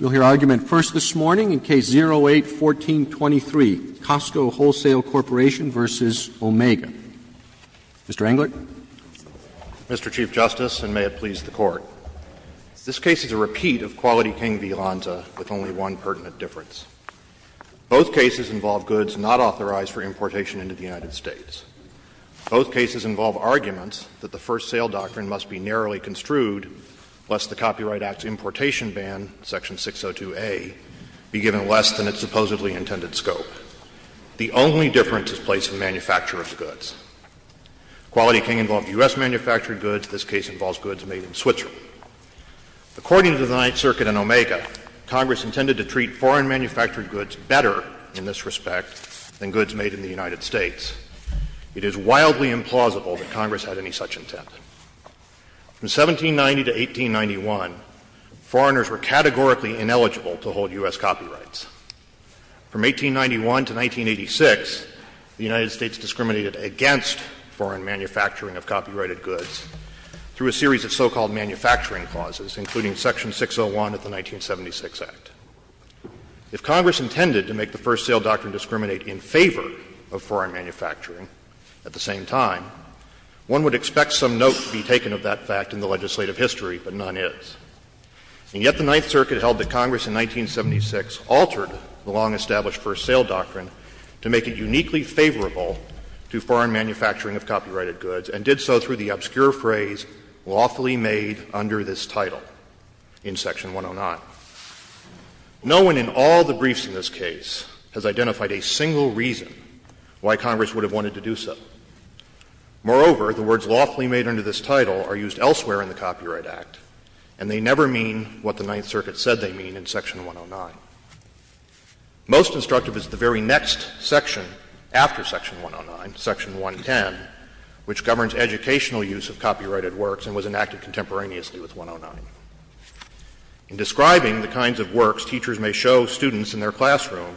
We'll hear argument first this morning in Case 08-1423, Costco Wholesale Corp. v. Omega. Mr. Englert. Mr. Chief Justice, and may it please the Court. This case is a repeat of Quality King v. Lanza, with only one pertinent difference. Both cases involve goods not authorized for importation into the United States. Both cases involve arguments that the first sale doctrine must be narrowly construed to, lest the Copyright Act's importation ban, Section 602a, be given less than its supposedly intended scope. The only difference is place of manufacturer's goods. Quality King involved U.S.-manufactured goods. This case involves goods made in Switzerland. According to the Ninth Circuit in Omega, Congress intended to treat foreign-manufactured goods better in this respect than goods made in the United States. It is wildly implausible that Congress had any such intent. From 1790 to 1891, foreigners were categorically ineligible to hold U.S. copyrights. From 1891 to 1986, the United States discriminated against foreign manufacturing of copyrighted goods through a series of so-called manufacturing clauses, including Section 601 of the 1976 Act. If Congress intended to make the first sale doctrine discriminate in favor of foreign manufacturing at the same time, one would expect some note to be taken of that fact in the legislative history, but none is. And yet the Ninth Circuit held that Congress in 1976 altered the long-established first sale doctrine to make it uniquely favorable to foreign manufacturing of copyrighted goods, and did so through the obscure phrase, lawfully made under this title, in Section 109. No one in all the briefs in this case has identified a single reason why Congress would have wanted to do so. Moreover, the words lawfully made under this title are used elsewhere in the Copyright Act, and they never mean what the Ninth Circuit said they mean in Section 109. Most instructive is the very next section after Section 109, Section 110, which governs educational use of copyrighted works and was enacted contemporaneously with 109. In describing the kinds of works teachers may show students in their classroom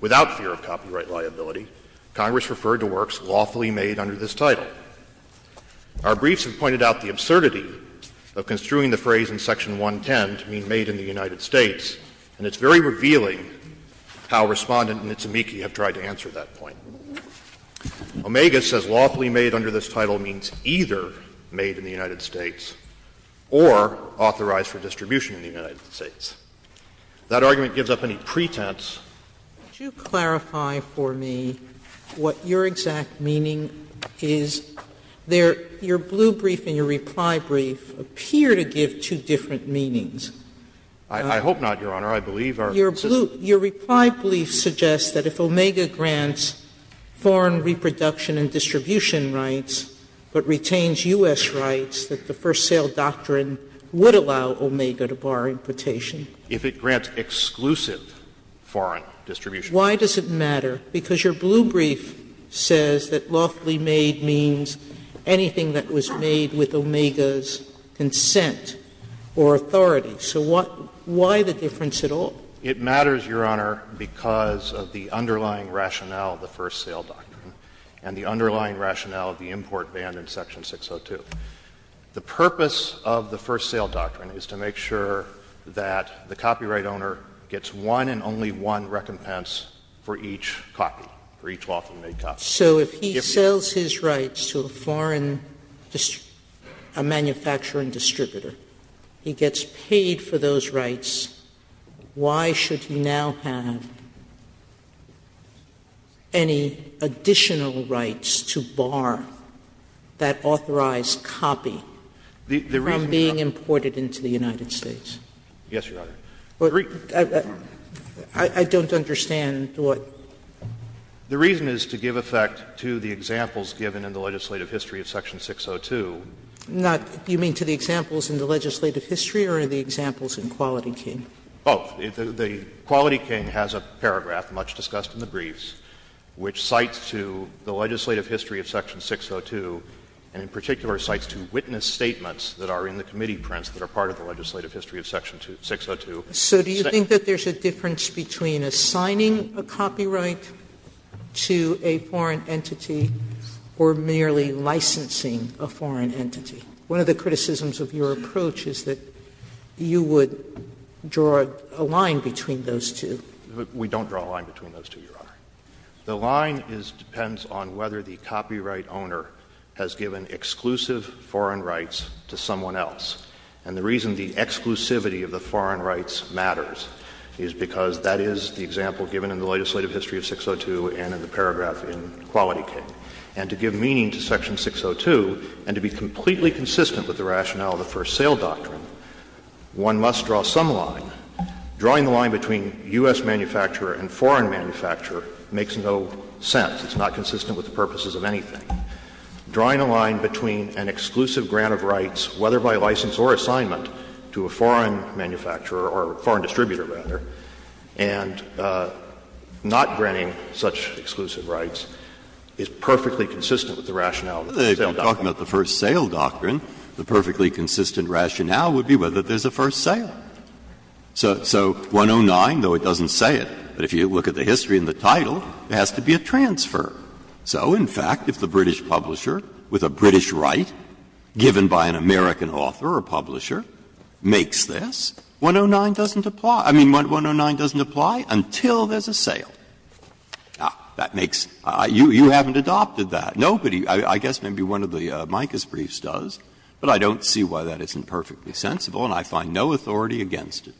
without fear of copyright liability, Congress referred to works lawfully made under this title. Our briefs have pointed out the absurdity of construing the phrase in Section 110 to mean made in the United States, and it's very revealing how Respondent and Nitsamiki have tried to answer that point. Omega says lawfully made under this title means either made in the United States or authorized for distribution in the United States. If that argument gives up any pretense. Sotomayor, would you clarify for me what your exact meaning is? Your blue brief and your reply brief appear to give two different meanings. I hope not, Your Honor. I believe our system is clear. Your reply brief suggests that if Omega grants foreign reproduction and distribution rights, but retains U.S. rights, that the First Sale Doctrine would allow Omega to bar importation. If it grants exclusive foreign distribution. Why does it matter? Because your blue brief says that lawfully made means anything that was made with Omega's consent or authority. So what why the difference at all? It matters, Your Honor, because of the underlying rationale of the First Sale Doctrine and the underlying rationale of the import ban in Section 602. The purpose of the First Sale Doctrine is to make sure that the copyright owner gets one and only one recompense for each copy, for each lawfully made copy. Sotomayor, if he sells his rights to a foreign manufacturing distributor, he gets paid for those rights, why should he now have any additional rights to bar that authorized copy from being imported into the United States? Yes, Your Honor. I don't understand what. The reason is to give effect to the examples given in the legislative history of Section 602. Sotomayor, do you mean to the examples in the legislative history or in the examples in Quality King? Oh, the Quality King has a paragraph, much discussed in the briefs, which cites to the legislative history of Section 602 and in particular cites to witness statements that are in the committee prints that are part of the legislative history of Section 602. So do you think that there's a difference between assigning a copyright to a foreign entity or merely licensing a foreign entity? One of the criticisms of your approach is that you would draw a line between those two. We don't draw a line between those two, Your Honor. The line depends on whether the copyright owner has given exclusive foreign rights to someone else. And the reason the exclusivity of the foreign rights matters is because that is the paragraph in Quality King. And to give meaning to Section 602 and to be completely consistent with the rationale of the First Sale Doctrine, one must draw some line. Drawing the line between U.S. manufacturer and foreign manufacturer makes no sense. It's not consistent with the purposes of anything. Drawing a line between an exclusive grant of rights, whether by license or assignment, to a foreign manufacturer or foreign distributor, rather, and not granting such exclusive rights, is perfectly consistent with the rationale of the First Sale Doctrine. Breyer, talking about the First Sale Doctrine, the perfectly consistent rationale would be whether there's a first sale. So 109, though it doesn't say it, but if you look at the history in the title, there has to be a transfer. So, in fact, if the British publisher, with a British right given by an American author or publisher, makes this, 109 doesn't apply. I mean, 109 doesn't apply until there's a sale. Now, that makes you haven't adopted that. Nobody, I guess maybe one of the Micah's briefs does, but I don't see why that isn't perfectly sensible and I find no authority against it.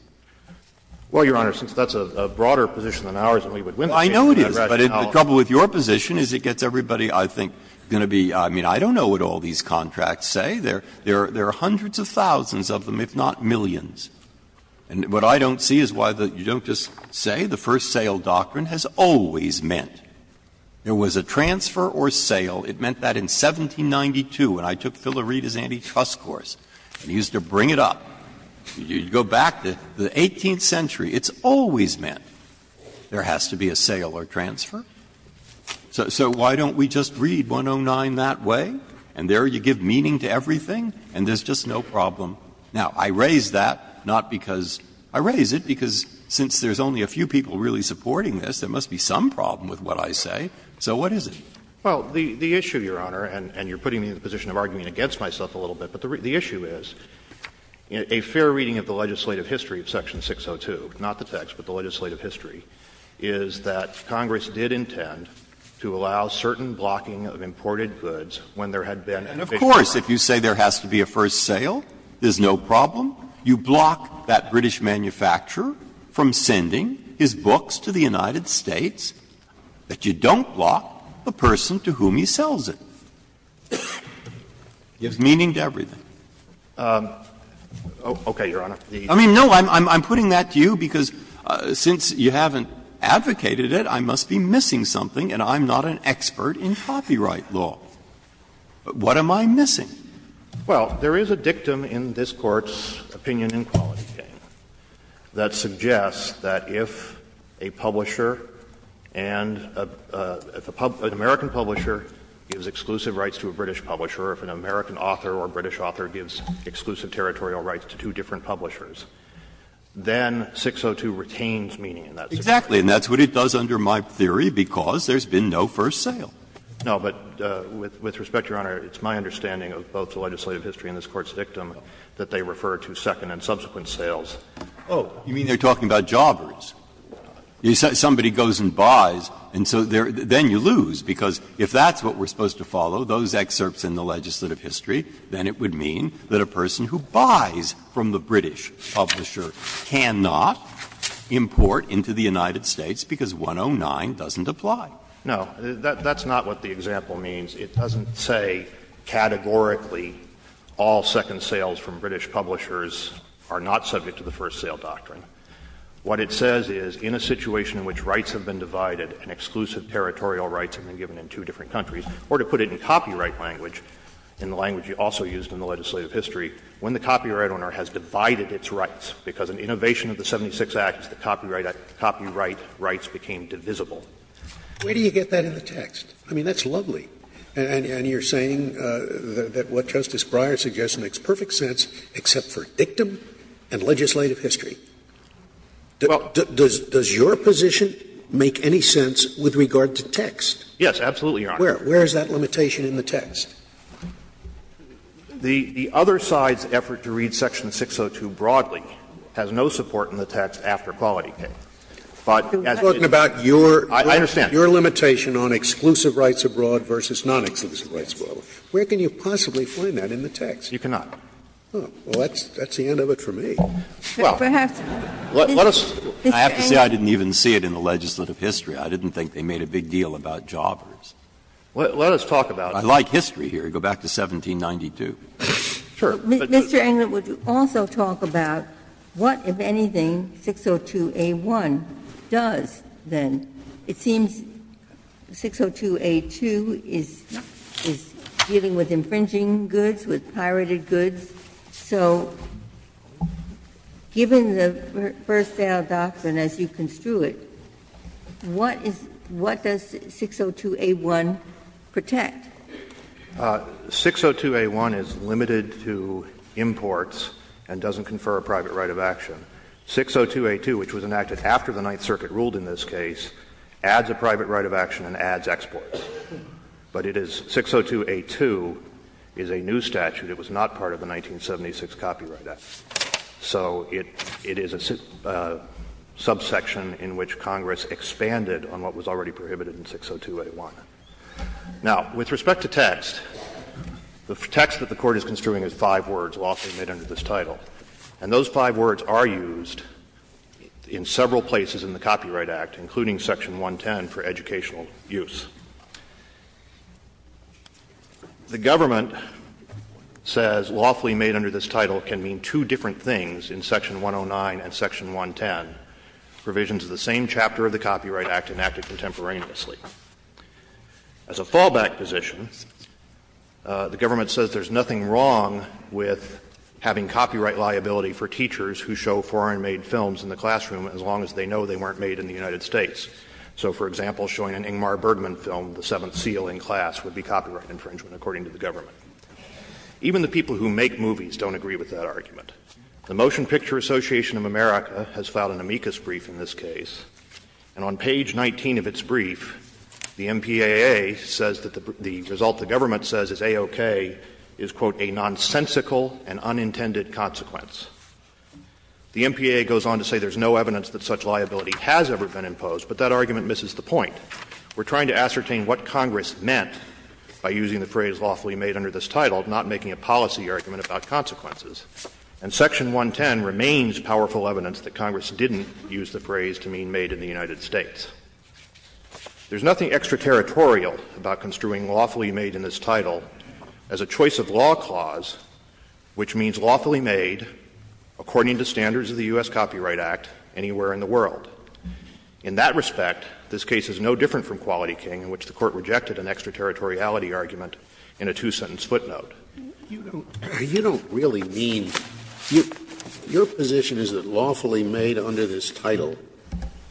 Well, Your Honor, since that's a broader position than ours and we would win the case if we had rationality. I know it is, but the trouble with your position is it gets everybody, I think, going to be – I mean, I don't know what all these contracts say. There are hundreds of thousands of them, if not millions. And what I don't see is why you don't just say the first sale doctrine has always meant there was a transfer or sale. It meant that in 1792 when I took Phila Reed's antitrust course and he used to bring it up. You go back to the 18th century, it's always meant there has to be a sale or transfer. So why don't we just read 109 that way and there you give meaning to everything and there's just no problem? Now, I raise that not because – I raise it because since there's only a few people really supporting this, there must be some problem with what I say. So what is it? Well, the issue, Your Honor, and you're putting me in the position of arguing against myself a little bit, but the issue is a fair reading of the legislative history of section 602, not the text, but the legislative history, is that Congress did intend to allow certain blocking of imported goods when there had been a big transfer. Breyer. And of course, if you say there has to be a first sale, there's no problem. You block that British manufacturer from sending his books to the United States, but you don't block the person to whom he sells it. It gives meaning to everything. Okay, Your Honor. I mean, no, I'm putting that to you because since you haven't advocated it, I must be missing something and I'm not an expert in copyright law. What am I missing? Well, there is a dictum in this Court's opinion in Quality Game that suggests that if a publisher and a – if an American publisher gives exclusive rights to a British publisher, or if an American author or a British author gives exclusive territorial rights to two different publishers, then 602 retains meaning in that situation. Exactly, and that's what it does under my theory because there's been no first sale. No, but with respect, Your Honor, it's my understanding of both the legislative history and this Court's dictum that they refer to second and subsequent sales. Oh, you mean they're talking about jobbers? Somebody goes and buys, and so then you lose, because if that's what we're supposed to follow, those excerpts in the legislative history, then it would mean that a person who buys from the British publisher cannot import into the United States because 109 doesn't apply. No, that's not what the example means. It doesn't say categorically all second sales from British publishers are not subject to the first sale doctrine. What it says is in a situation in which rights have been divided and exclusive territorial rights have been given in two different countries, or to put it in copyright language, in the language you also used in the legislative history, when the copyright owner has divided its rights, because in innovation of the 76 Acts, the copyright rights became divisible. Scalia, where do you get that in the text? I mean, that's lovely. And you're saying that what Justice Breyer suggests makes perfect sense, except for dictum and legislative history. Well, does your position make any sense with regard to text? Yes, absolutely, Your Honor. Where is that limitation in the text? The other side's effort to read section 602 broadly has no support in the text after But as it is in the text, it's not in the text. I understand. Your limitation on exclusive rights abroad versus non-exclusive rights abroad, where can you possibly find that in the text? You cannot. Well, that's the end of it for me. Well, let us. I have to say I didn't even see it in the legislative history. I didn't think they made a big deal about jobbers. Let us talk about it. I like history here. Go back to 1792. Sure. Mr. Englund, would you also talk about what, if anything, 602A1 does then? It seems 602A2 is dealing with infringing goods, with pirated goods. So given the first-sale doctrine as you construe it, what does 602A1 protect? 602A1 is limited to imports and doesn't confer a private right of action. 602A2, which was enacted after the Ninth Circuit ruled in this case, adds a private right of action and adds exports. But it is 602A2 is a new statute. It was not part of the 1976 Copyright Act. So it is a subsection in which Congress expanded on what was already prohibited in 602A1. Now, with respect to text, the text that the Court is construing is five words, lawfully made under this title. And those five words are used in several places in the Copyright Act, including section 110 for educational use. The government says lawfully made under this title can mean two different things in section 109 and section 110, provisions of the same chapter of the Copyright Act enacted contemporaneously. As a fallback position, the government says there is nothing wrong with having copyright liability for teachers who show foreign-made films in the classroom as long as they know they weren't made in the United States. So, for example, showing an Ingmar Bergman film, The Seventh Seal, in class would be copyright infringement, according to the government. Even the people who make movies don't agree with that argument. The Motion Picture Association of America has filed an amicus brief in this case. And on page 19 of its brief, the MPAA says that the result the government says is A-OK is, quote, a nonsensical and unintended consequence. The MPAA goes on to say there is no evidence that such liability has ever been imposed, but that argument misses the point. We are trying to ascertain what Congress meant by using the phrase lawfully made under this title, not making a policy argument about consequences. And I'm not going to go into the details of that, because I don't think it's a good place to mean made in the United States. There's nothing extraterritorial about construing lawfully made in this title as a choice of law clause which means lawfully made according to standards of the U.S. Copyright Act anywhere in the world. In that respect, this case is no different from Quality King, in which the Court rejected an extraterritoriality argument in a two-sentence footnote. Scalia, you don't really mean your position is that lawfully made under this title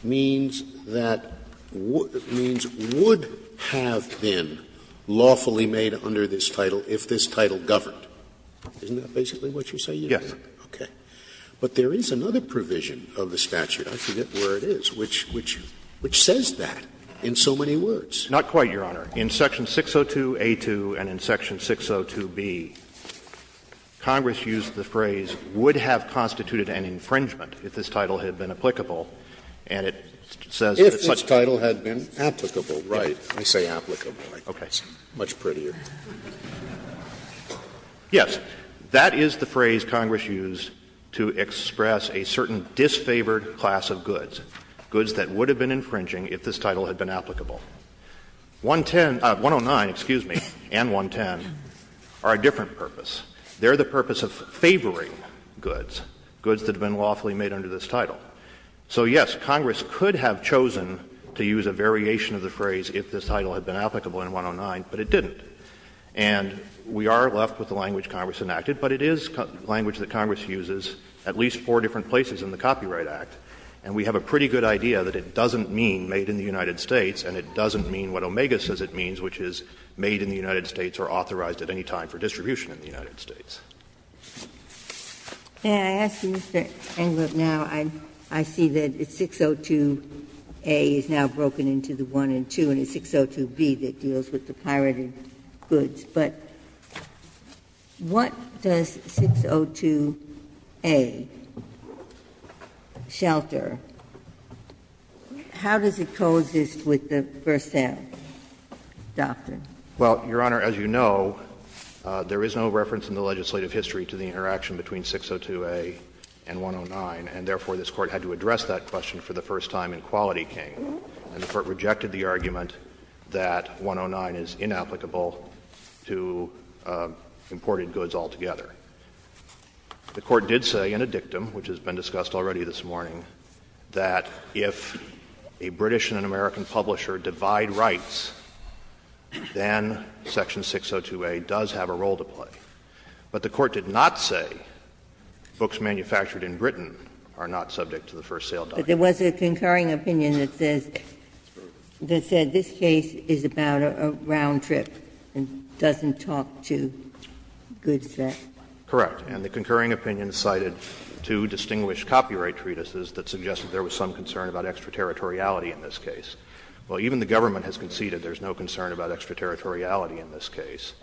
means that would have been lawfully made under this title if this title governed. Isn't that basically what you're saying? Horwich, Yes. Scalia, okay. But there is another provision of the statute, I forget where it is, which says that in so many words. Horwich, Not quite, Your Honor. In section 602A2 and in section 602B, Congress used the phrase would have constituted an infringement if this title had been applicable, and it says that it's much prettier. Scalia, If this title had been applicable, right. I say applicable, right. Horwich, Okay. Scalia, Much prettier. Horwich, Yes. That is the phrase Congress used to express a certain disfavored class of goods, goods that would have been infringing if this title had been applicable. 110 — 109, excuse me, and 110 are a different purpose. They're the purpose of favoring goods, goods that have been lawfully made under this title. So, yes, Congress could have chosen to use a variation of the phrase if this title had been applicable in 109, but it didn't. And we are left with the language Congress enacted, but it is language that Congress uses at least four different places in the Copyright Act. And we have a pretty good idea that it doesn't mean made in the United States and it doesn't mean what Omega says it means, which is made in the United States or authorized at any time for distribution in the United States. Ginsburg, May I ask you, Mr. Englert, now, I see that 602A is now broken into the 1 and 2, and it's 602B that deals with the pirated goods, but what does 602A shall do? How does it coexist with the first-hand doctrine? Englert, Your Honor, as you know, there is no reference in the legislative history to the interaction between 602A and 109, and therefore, this Court had to address that question for the first time in Quality King, and the Court rejected the argument that 109 is inapplicable to imported goods altogether. The Court did say in a dictum, which has been discussed already this morning, that if a British and an American publisher divide rights, then section 602A does have a role to play. But the Court did not say books manufactured in Britain are not subject to the first sale doctrine. Ginsburg, but there was a concurring opinion that says this case is about a round trip and doesn't talk to goods that are bought. Englert, Your Honor, correct. And the concurring opinion cited two distinguished copyright treatises that suggested there was some concern about extraterritoriality in this case. Well, even the government has conceded there is no concern about extraterritoriality in this case.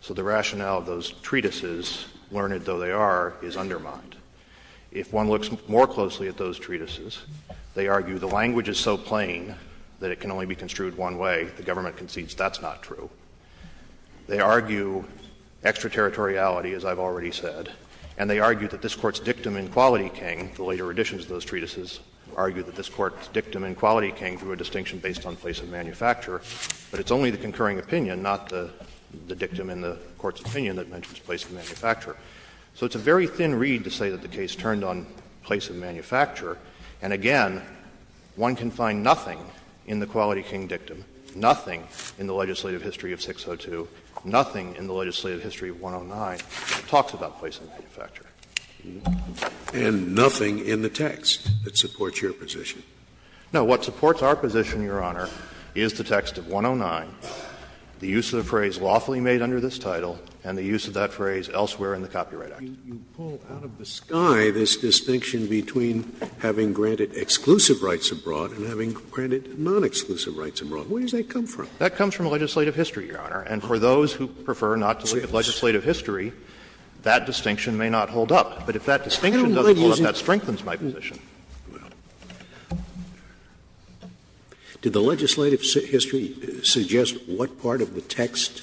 So the rationale of those treatises, learned though they are, is undermined. If one looks more closely at those treatises, they argue the language is so plain that it can only be construed one way, the government concedes that's not true. They argue extraterritoriality, as I've already said, and they argue that this Court's dictum in Quality King, the later editions of those treatises, argue that this Court's dictum in Quality King drew a distinction based on place of manufacture, but it's only the concurring opinion, not the dictum in the Court's opinion that mentions place of manufacture. So it's a very thin reed to say that the case turned on place of manufacture. And again, one can find nothing in the Quality King dictum, nothing in the legislative history of 602, nothing in the legislative history of 109 that talks about place of manufacture. Scalia, and nothing in the text that supports your position. No. What supports our position, Your Honor, is the text of 109, the use of the phrase lawfully made under this title, and the use of that phrase elsewhere in the Copyright Act. Scalia, you pull out of the sky this distinction between having granted exclusive rights abroad and having granted nonexclusive rights abroad. Where does that come from? That comes from legislative history, Your Honor. And for those who prefer not to look at legislative history, that distinction may not hold up. But if that distinction doesn't hold up, that strengthens my position. Scalia, did the legislative history suggest what part of the text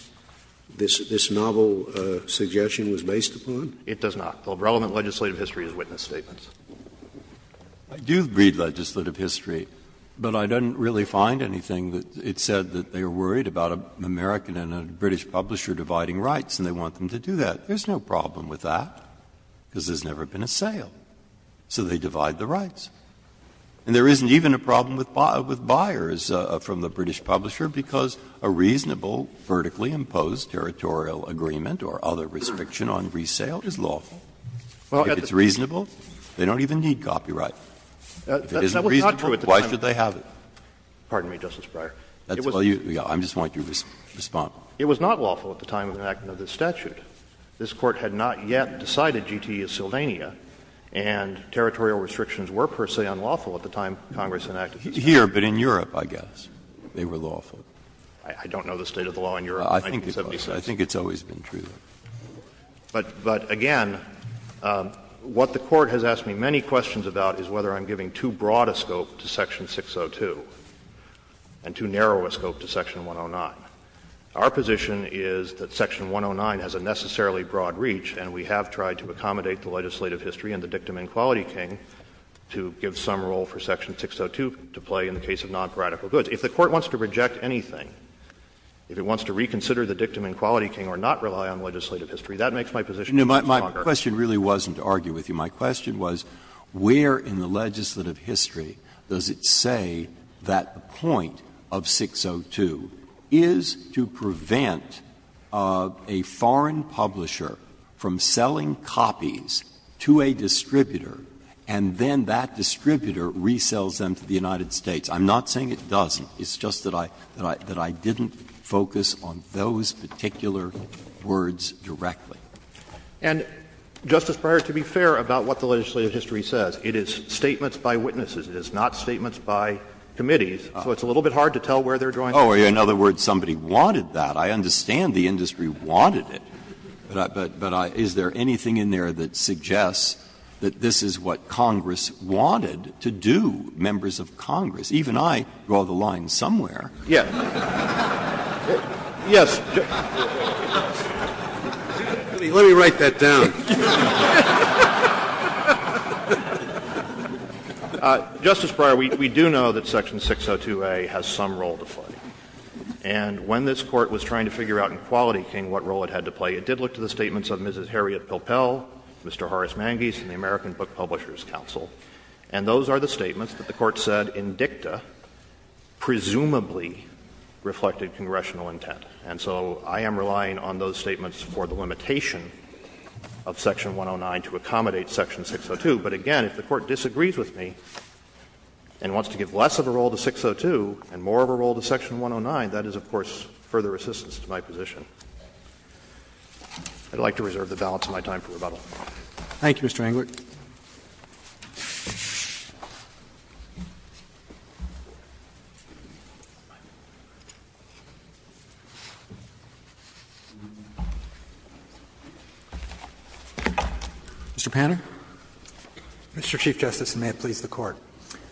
this novel suggestion was based upon? It does not. The relevant legislative history is witness statements. I do read legislative history, but I don't really find anything that it said that they are worried about an American and a British publisher dividing rights, and they want them to do that. There's no problem with that, because there's never been a sale. So they divide the rights. And there isn't even a problem with buyers from the British publisher, because a reasonable vertically imposed territorial agreement or other restriction on resale is lawful. If it's reasonable, they don't even need copyright. If it isn't reasonable, why should they have it? Pardon me, Justice Breyer. It was not lawful at the time of enactment of this statute. This Court had not yet decided GTE is Sylvania, and territorial restrictions were per se unlawful at the time Congress enacted this statute. Here, but in Europe, I guess, they were lawful. I don't know the state of the law in Europe in 1976. I think it's always been true. But again, what the Court has asked me many questions about is whether I'm giving too broad a scope to section 602 and too narrow a scope to section 109. Our position is that section 109 has a necessarily broad reach, and we have tried to accommodate the legislative history and the dictum in quality king to give some role for section 602 to play in the case of non-paradical goods. If the Court wants to reject anything, if it wants to reconsider the dictum in quality king or not rely on legislative history, that makes my position much longer. Breyer, my question really wasn't to argue with you. My question was, where in the legislative history does it say that the point of 602 is to prevent a foreign publisher from selling copies to a distributor, and then that distributor resells them to the United States? I'm not saying it doesn't. It's just that I didn't focus on those particular words directly. And, Justice Breyer, to be fair about what the legislative history says, it is statements by witnesses. It is not statements by committees. So it's a little bit hard to tell where they're drawing the line. Breyer, in other words, somebody wanted that. I understand the industry wanted it. But is there anything in there that suggests that this is what Congress wanted to do, members of Congress? Even I draw the line somewhere. Yes. Yes. Let me write that down. Justice Breyer, we do know that section 602A has some role to play. And when this Court was trying to figure out in quality king what role it had to play, it did look to the statements of Mrs. Harriet Pilpel, Mr. Horace Mangese and the American Book Publishers Council, and those are the statements that the Court said in dicta presumably reflected congressional intent. And so I am relying on those statements for the limitation of section 109 to accommodate section 602. But, again, if the Court disagrees with me and wants to give less of a role to 602 and more of a role to section 109, that is, of course, further resistance to my position. I'd like to reserve the balance of my time for rebuttal. Thank you, Mr. Englert. Mr. Panner. Mr. Chief Justice, and may it please the Court.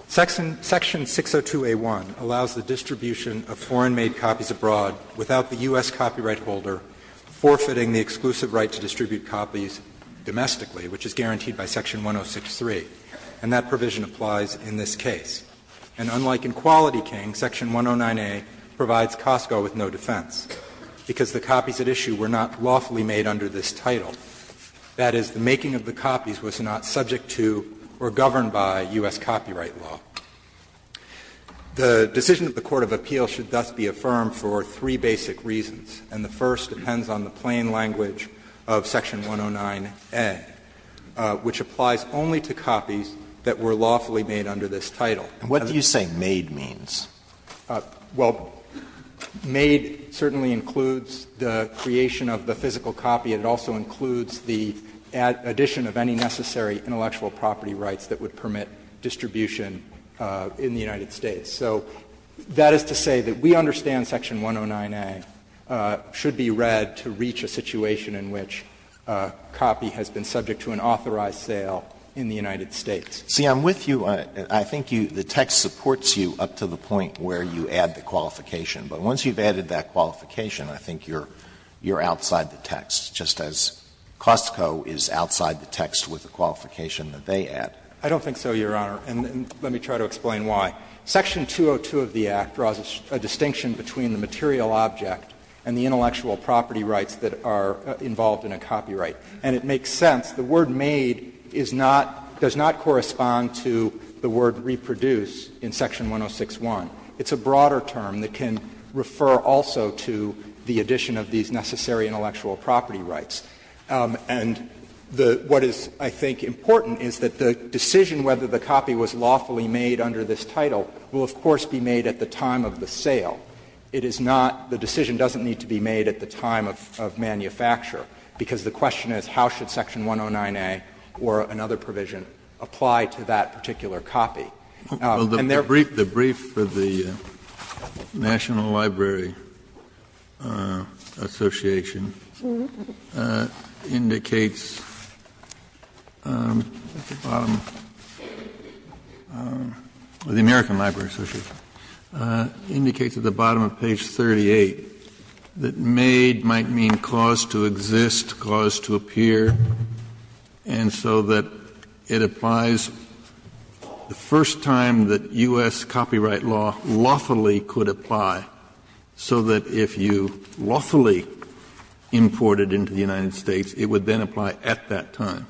Section 602A1 allows the distribution of foreign-made copies abroad without the U.S. copyright holder forfeiting the exclusive right to distribute copies domestically, which is guaranteed by section 106.3, and that provision applies in this case. And unlike in Quality King, section 109A provides Costco with no defense, because the copies at issue were not lawfully made under this title. That is, the making of the copies was not subject to or governed by U.S. copyright law. The decision of the court of appeal should thus be affirmed for three basic reasons, and the first depends on the plain language of section 109A, which applies only to copies that were lawfully made under this title. And what do you say made means? Well, made certainly includes the creation of the physical copy, and it also includes the addition of any necessary intellectual property rights that would permit distribution in the United States. So that is to say that we understand section 109A should be read to reach a situation in which a copy has been subject to an authorized sale in the United States. See, I'm with you. I think the text supports you up to the point where you add the qualification. But once you've added that qualification, I think you're outside the text, just as Costco is outside the text with the qualification that they add. I don't think so, Your Honor, and let me try to explain why. Section 202 of the Act draws a distinction between the material object and the intellectual property rights that are involved in a copyright, and it makes sense. The word made is not, does not correspond to the word reproduce in section 106.1. It's a broader term that can refer also to the addition of these necessary intellectual property rights. And the, what is, I think, important is that the decision whether the copy was lawfully made under this title will, of course, be made at the time of the sale. It is not, the decision doesn't need to be made at the time of manufacture, because the question is how should section 109A or another provision apply to that particular copy. And therefore, there is no need to make a decision at the time of manufacture. Kennedy, the brief for the National Library Association indicates, at the bottom of the American Library Association, indicates at the bottom of page 38 that made might mean cause to exist, cause to appear, and so that it applies the first time that U.S. copyright law lawfully could apply, so that if you lawfully imported into the United States, it would then apply at that time.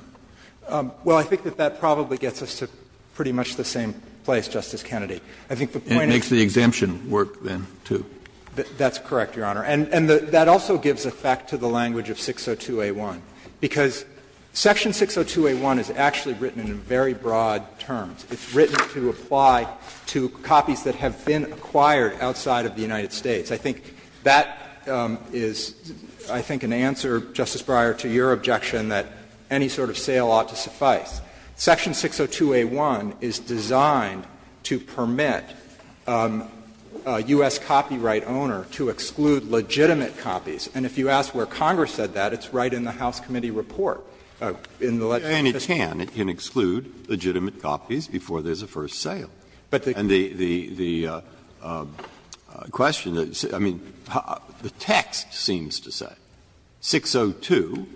Well, I think that that probably gets us to pretty much the same place, Justice Kennedy. And that also gives effect to the language of 602A1, because section 602A1 is actually written in very broad terms. It's written to apply to copies that have been acquired outside of the United States. I think that is, I think, an answer, Justice Breyer, to your objection that any sort of sale ought to suffice. Section 602A1 is designed to permit a U.S. copyright owner to exclude legitimate copies. And if you ask where Congress said that, it's right in the House Committee report, in the legislation. Breyer, and it can. It can exclude legitimate copies before there is a first sale. And the question is, I mean, the text seems to say 602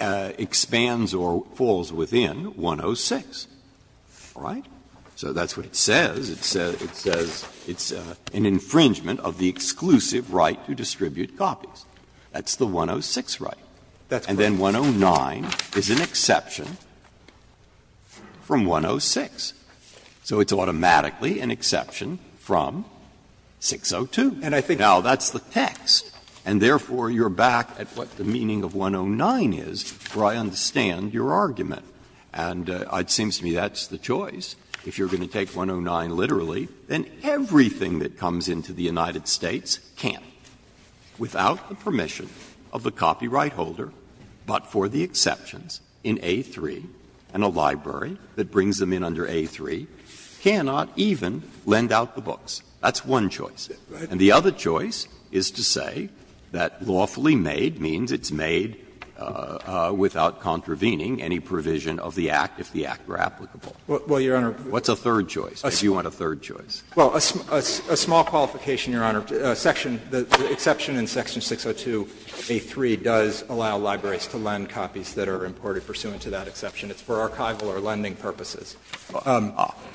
expands or falls within 106, all right? So that's what it says. It says it's an infringement of the exclusive right to distribute copies. That's the 106 right. And then 109 is an exception from 106. So it's automatically an exception from 602. Now, that's the text. And therefore, you're back at what the meaning of 109 is, for I understand your argument. And it seems to me that's the choice. If you're going to take 109 literally, then everything that comes into the United States can't, without the permission of the copyright holder, but for the exceptions in A3, and a library that brings them in under A3, cannot even lend out the books. That's one choice. And the other choice is to say that lawfully made means it's made without contravening any provision of the Act, if the Act were applicable. What's a third choice, if you want a third choice? Well, a small qualification, Your Honor. The exception in section 602A3 does allow libraries to lend copies that are imported pursuant to that exception. It's for archival or lending purposes.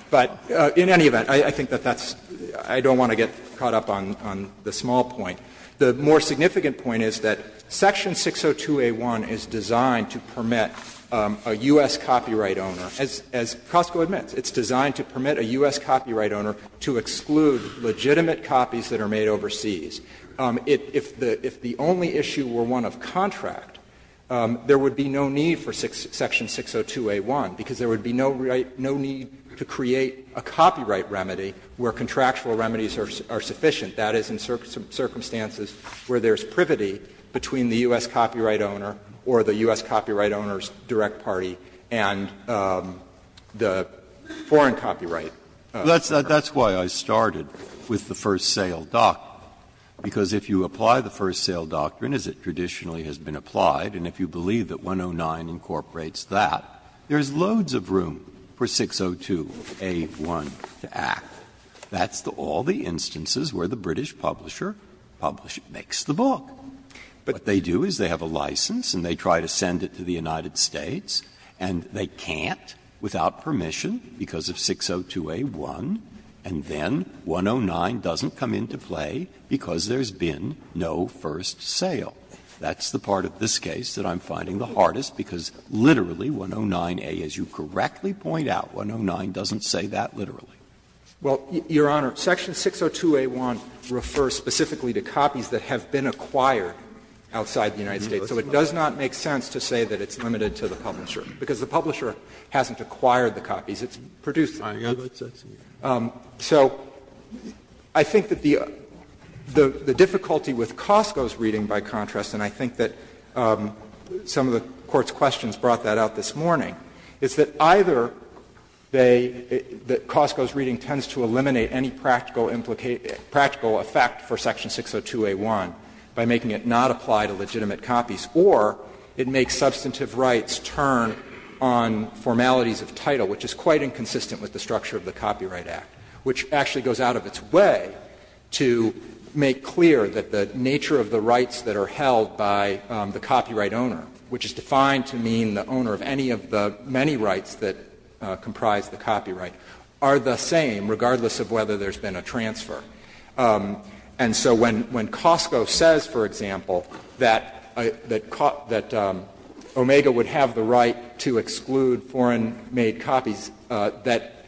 But in any event, I think that that's — I don't want to get caught up on the small point. The more significant point is that section 602A1 is designed to permit a U.S. copyright owner. As Costco admits, it's designed to permit a U.S. copyright owner to exclude legitimate copies that are made overseas. If the only issue were one of contract, there would be no need for section 602A1, because there would be no need to create a copyright remedy where contractual remedies are sufficient. That is in circumstances where there's privity between the U.S. copyright owner or the U.S. copyright owner's direct party and the foreign copyright. Breyer. That's why I started with the first sale doctrine, because if you apply the first sale doctrine as it traditionally has been applied, and if you believe that 109 incorporates that, there's loads of room for 602A1 to act. That's all the instances where the British publisher publishes — makes the book. What they do is they have a license and they try to send it to the United States, and they can't without permission because of 602A1, and then 109 doesn't come into play because there's been no first sale. That's the part of this case that I'm finding the hardest, because literally 109A, as you correctly point out, 109 doesn't say that literally. Well, Your Honor, section 602A1 refers specifically to copies that have been acquired outside the United States, so it does not make sense to say that it's limited to the publisher, because the publisher hasn't acquired the copies. It's produced them. So I think that the difficulty with Costco's reading, by contrast, and I think that some of the Court's questions brought that out this morning, is that either they — that Costco's reading tends to eliminate any practical effect for section 602A1 by making it not apply to legitimate copies, or it makes substantive rights turn on formalities of title, which is quite inconsistent with the structure of the Copyright Act, which actually goes out of its way to make clear that the nature of the rights that are held by the copyright owner, which is defined to mean the owner of any of the many rights that comprise the copyright, are the same regardless of whether there's been a transfer. And so when Costco says, for example, that Omega would have the right to exclude foreign-made copies that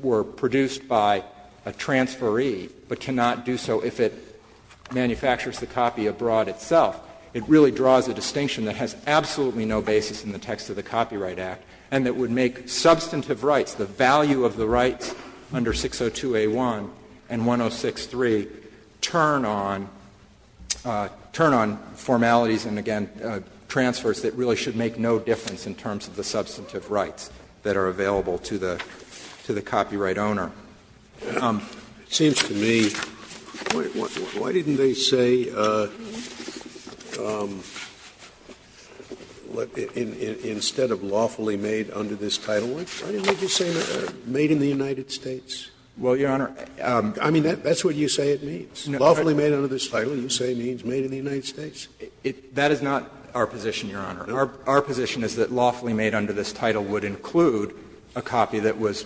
were produced by a transferee but cannot do so if it manufactures the copy abroad itself, it really draws a distinction that has absolutely no basis in the text of the Copyright Act and that would make substantive rights, the value of the rights under 602A1 and 106.3, turn on formalities and, again, transfers that really should make no difference in terms of the substantive rights that are available to the copyright owner. Scalia, it seems to me, why didn't they say instead of lawfully made under this title, why didn't they just say made in the United States? Well, Your Honor, I mean, that's what you say it means. Lawfully made under this title, you say means made in the United States. That is not our position, Your Honor. Our position is that lawfully made under this title would include a copy that was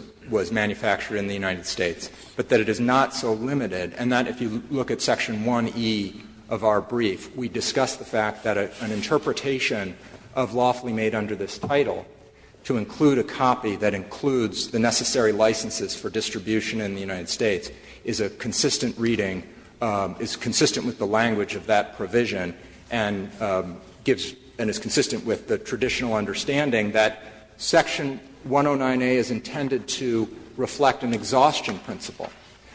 manufactured in the United States, but that it is not so limited. And that, if you look at section 1E of our brief, we discuss the fact that an interpretation of lawfully made under this title to include a copy that includes the necessary licenses for distribution in the United States is a consistent reading, is consistent with the language of that provision and gives and is consistent with the traditional understanding that section 109A is intended to reflect an exhaustion principle.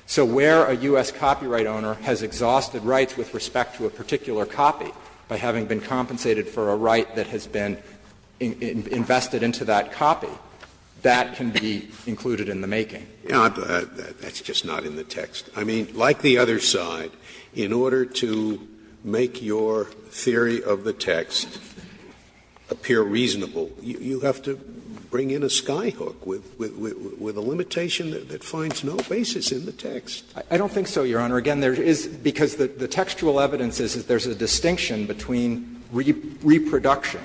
So where a U.S. copyright owner has exhausted rights with respect to a particular copy by having been compensated for a right that has been invested into that copy, that can be included in the making. Scalia, I mean, like the other side, in order to make your theory of the text appear reasonable, you have to bring in a skyhook with a limitation that finds no basis in the text. I don't think so, Your Honor. Again, there is, because the textual evidence is that there is a distinction between reproduction,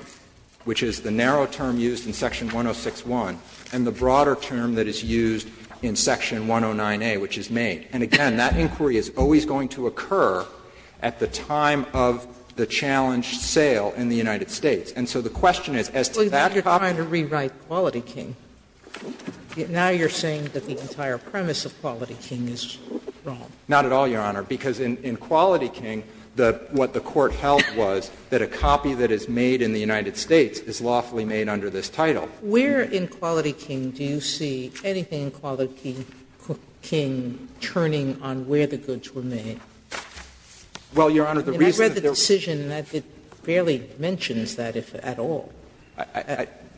which is the narrow term used in section 106.1, and the broader term that is used in section 109A, which is made. And again, that inquiry is always going to occur at the time of the challenge sale in the United States. And so the question is, as to that copy. Sotomayor, you are trying to rewrite Quality King. Now you are saying that the entire premise of Quality King is wrong. Not at all, Your Honor, because in Quality King, what the Court held was that a copy that is made in the United States is lawfully made under this title. Sotomayor, where in Quality King do you see anything in Quality King turning on where the goods were made? Well, Your Honor, the reason that there was a decision that barely mentions that at all.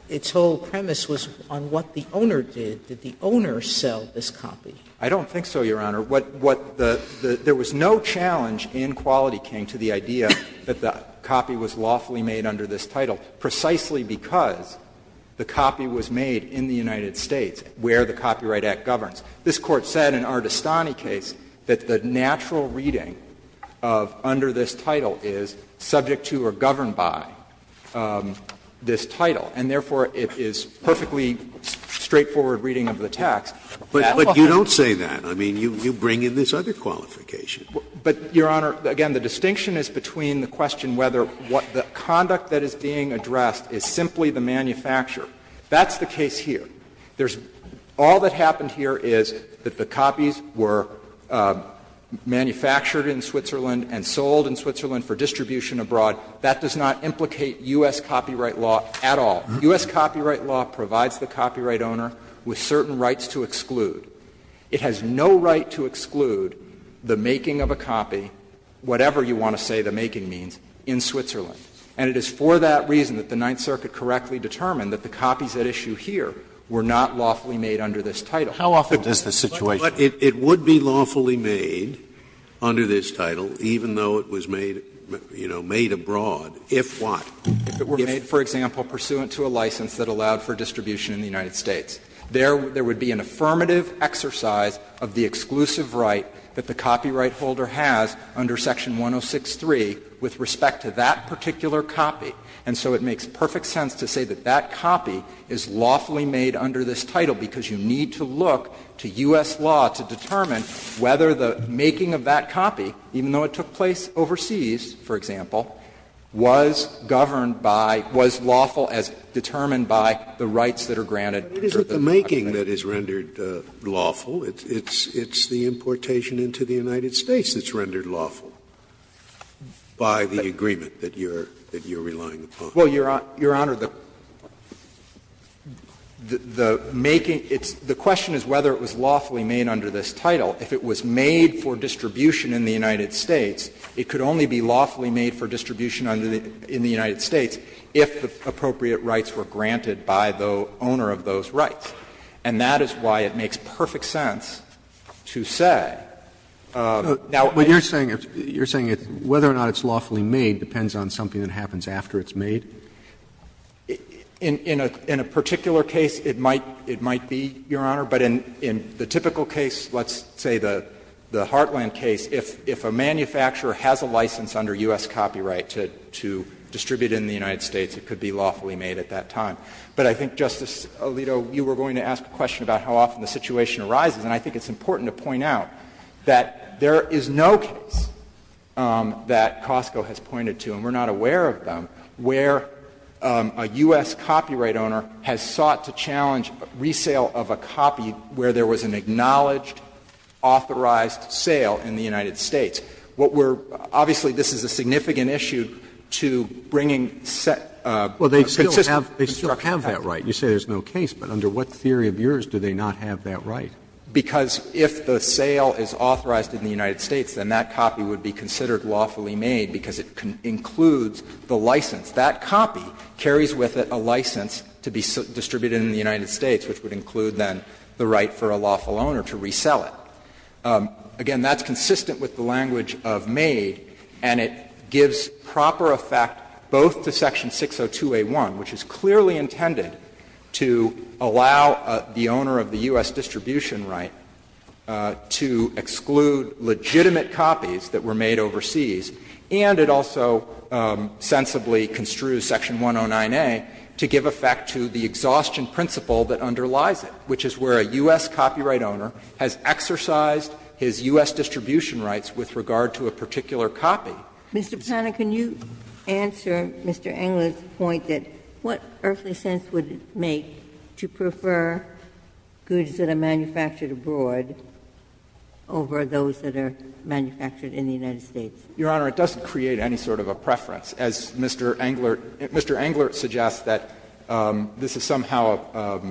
Its whole premise was on what the owner did. Did the owner sell this copy? I don't think so, Your Honor. What the — there was no challenge in Quality King to the idea that the copy was made in the United States where the Copyright Act governs. This Court said in our Dastani case that the natural reading of under this title is subject to or governed by this title, and therefore, it is perfectly straightforward reading of the text. But you don't say that. I mean, you bring in this other qualification. But, Your Honor, again, the distinction is between the question whether what the conduct that is being addressed is simply the manufacturer. That's the case here. There's — all that happened here is that the copies were manufactured in Switzerland and sold in Switzerland for distribution abroad. That does not implicate U.S. copyright law at all. U.S. copyright law provides the copyright owner with certain rights to exclude. It has no right to exclude the making of a copy, whatever you want to say the making means, in Switzerland. And it is for that reason that the Ninth Circuit correctly determined that the copies at issue here were not lawfully made under this title. Scalia. How often does the situation change? Scalia. But it would be lawfully made under this title, even though it was made, you know, made abroad, if what? If it were made, for example, pursuant to a license that allowed for distribution in the United States. There would be an affirmative exercise of the exclusive right that the copyright holder has under Section 106.3 with respect to that particular copy. And so it makes perfect sense to say that that copy is lawfully made under this title, because you need to look to U.S. law to determine whether the making of that copy, even though it took place overseas, for example, was governed by — was lawful as determined by the rights that are granted. Scalia. But it isn't the making that is rendered lawful. It's the importation into the United States that's rendered lawful by the agreement that you're relying upon. Well, Your Honor, the making — the question is whether it was lawfully made under this title. If it was made for distribution in the United States, it could only be lawfully made for distribution in the United States if the appropriate rights were granted by the owner of those rights. And that is why it makes perfect sense to say, now, if you're saying it's — you're saying whether or not it's lawfully made depends on something that happens after it's made? In a particular case, it might be, Your Honor, but in the typical case, let's say the Heartland case, if a manufacturer has a license under U.S. copyright to distribute in the United States, it could be lawfully made at that time. But I think, Justice Alito, you were going to ask a question about how often the situation arises. And I think it's important to point out that there is no case that Costco has pointed to, and we're not aware of them, where a U.S. copyright owner has sought to challenge resale of a copy where there was an acknowledged, authorized sale in the United States. What we're — obviously, this is a significant issue to bringing set of consistent constructions. Roberts, you say there's no case, but under what theory of yours do they not have that right? Because if the sale is authorized in the United States, then that copy would be considered lawfully made because it includes the license. That copy carries with it a license to be distributed in the United States, which would include, then, the right for a lawful owner to resell it. Again, that's consistent with the language of made, and it gives proper effect both to section 602A1, which is clearly intended to allow the owner of the U.S. distribution right to exclude legitimate copies that were made overseas, and it also sensibly construes section 109A to give effect to the exhaustion principle that underlies it, which is where a U.S. copyright owner has exercised his U.S. distribution rights with regard to a particular copy. Ginsburg. Mr. Panner, can you answer Mr. Englert's point that what earthly sense would it make to prefer goods that are manufactured abroad over those that are manufactured in the United States? Your Honor, it doesn't create any sort of a preference. As Mr. Englert suggests, that this is somehow a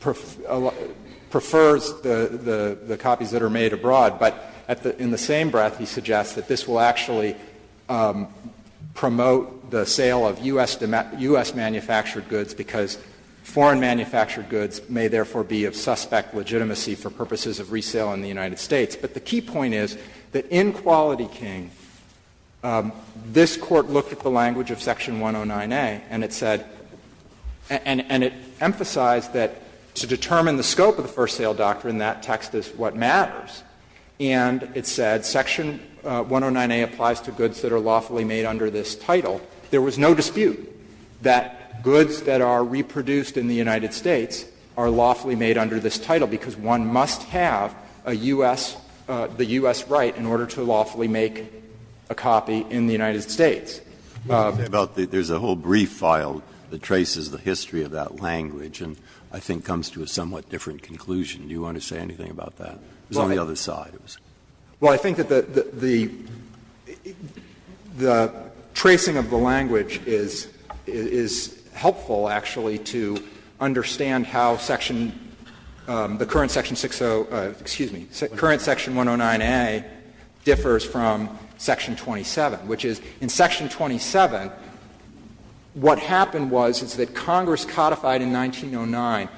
perf perfers the copies that are made to actually promote the sale of U.S.-manufactured goods, because foreign-manufactured goods may, therefore, be of suspect legitimacy for purposes of resale in the United States. But the key point is that in Quality King, this Court looked at the language of section 109A, and it said — and it emphasized that to determine the scope of the first-sale doctrine, that text is what matters, and it said section 109A applies to goods that are lawfully made under this title. There was no dispute that goods that are reproduced in the United States are lawfully made under this title, because one must have a U.S. — the U.S. right in order to lawfully make a copy in the United States. Breyer, there's a whole brief file that traces the history of that language and I think it comes to a somewhat different conclusion. Do you want to say anything about that? It was on the other side. Well, I think that the — the tracing of the language is helpful, actually, to understand how section — the current section 60 — excuse me, current section 109A differs from section 27, which is in section 27, what happened was is that Congress codified in 1909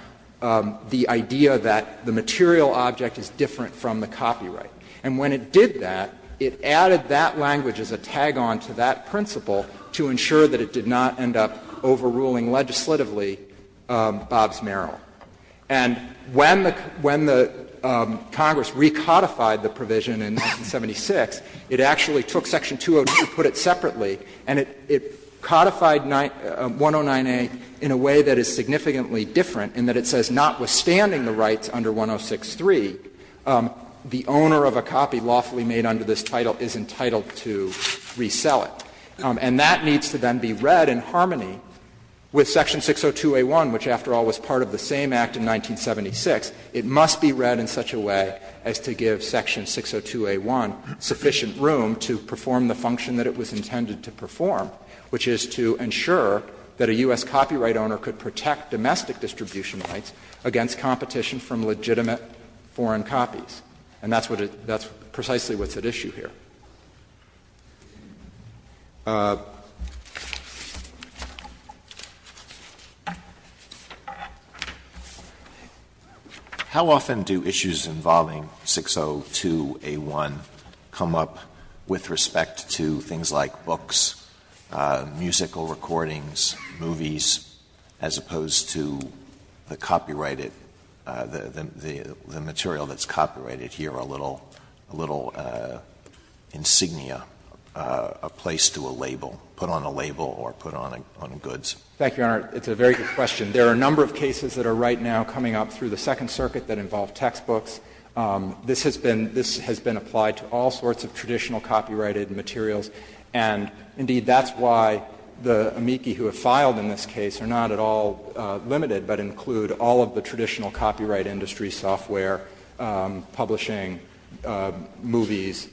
the idea that the material object is different from the copyright. And when it did that, it added that language as a tag-on to that principle to ensure that it did not end up overruling legislatively Bobbs-Merrill. And when the Congress recodified the provision in 1976, it actually took section 202, put it separately, and it codified 109A in a way that is significantly different in that it says, notwithstanding the rights under 106.3, the owner of a copy lawfully made under this title is entitled to resell it. And that needs to then be read in harmony with section 602a1, which, after all, was part of the same act in 1976. It must be read in such a way as to give section 602a1 sufficient room to perform the function that it was intended to perform, which is to ensure that a U.S. copyright owner could protect domestic distribution rights against competition from legitimate foreign copies. And that's precisely what's at issue here. Alito, please. Alito How often do issues involving 602a1 come up with respect to things like books, musical recordings, movies, as opposed to the copyrighted, the material that's a place to a label, put on a label or put on goods? Thank you, Your Honor. It's a very good question. There are a number of cases that are right now coming up through the Second Circuit that involve textbooks. This has been applied to all sorts of traditional copyrighted materials, and, indeed, that's why the amici who have filed in this case are not at all limited, but include all of the traditional copyright industry software, publishing, movies,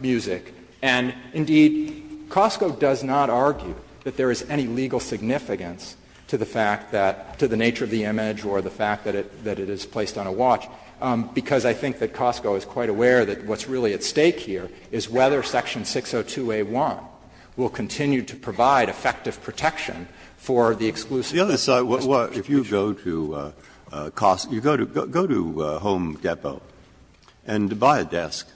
music. And, indeed, Costco does not argue that there is any legal significance to the fact that, to the nature of the image or the fact that it is placed on a watch, because I think that Costco is quite aware that what's really at stake here is whether section 602a1 will continue to provide effective protection for the exclusive distribution. Breyer, if you go to Costco, you go to Home Depot and buy a desk,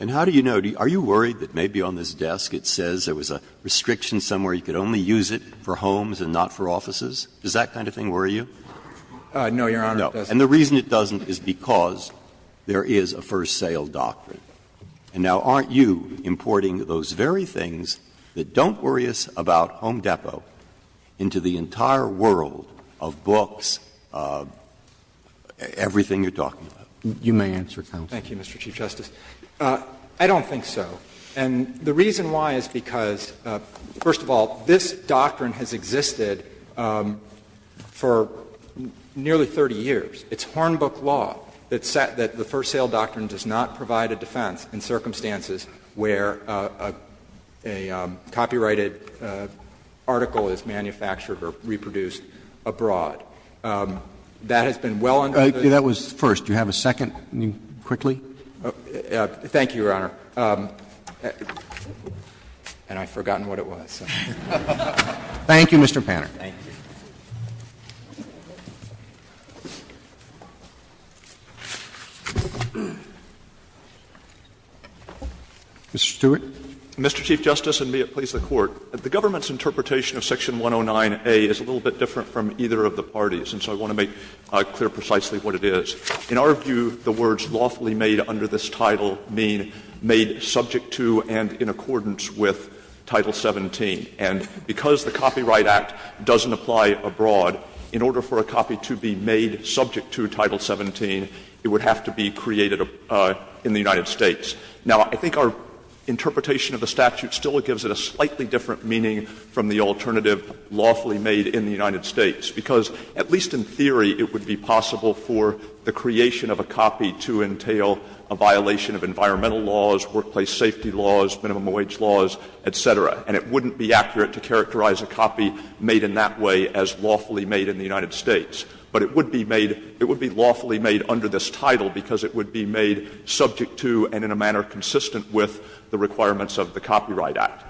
and how do you know where it is? Are you worried that maybe on this desk it says there was a restriction somewhere you could only use it for homes and not for offices? Does that kind of thing worry you? No, Your Honor, it doesn't. And the reason it doesn't is because there is a first sale doctrine. And now, aren't you importing those very things that don't worry us about Home Depot into the entire world of books, everything you're talking about? You may answer, counsel. Thank you, Mr. Chief Justice. I don't think so. And the reason why is because, first of all, this doctrine has existed for nearly 30 years. It's Hornbook law that the first sale doctrine does not provide a defense in circumstances where a copyrighted article is manufactured or reproduced abroad. That has been well under the law. That was first. Do you have a second quickly? Thank you, Your Honor. And I've forgotten what it was. Thank you, Mr. Panner. Mr. Stewart. Mr. Chief Justice, and may it please the Court, the government's interpretation of section 109A is a little bit different from either of the parties, and so I want to make clear precisely what it is. In our view, the words lawfully made under this title mean made subject to and in accordance with Title 17. And because the Copyright Act doesn't apply abroad, in order for a copy to be made subject to Title 17, it would have to be created in the United States. Now, I think our interpretation of the statute still gives it a slightly different meaning from the alternative lawfully made in the United States, because at least in theory, it would be possible for the creation of a copy to entail a violation of environmental laws, workplace safety laws, minimum wage laws, et cetera, and it wouldn't be accurate to characterize a copy made in that way as lawfully made in the United States. But it would be made – it would be lawfully made under this title because it would be made subject to and in a manner consistent with the requirements of the Copyright Act.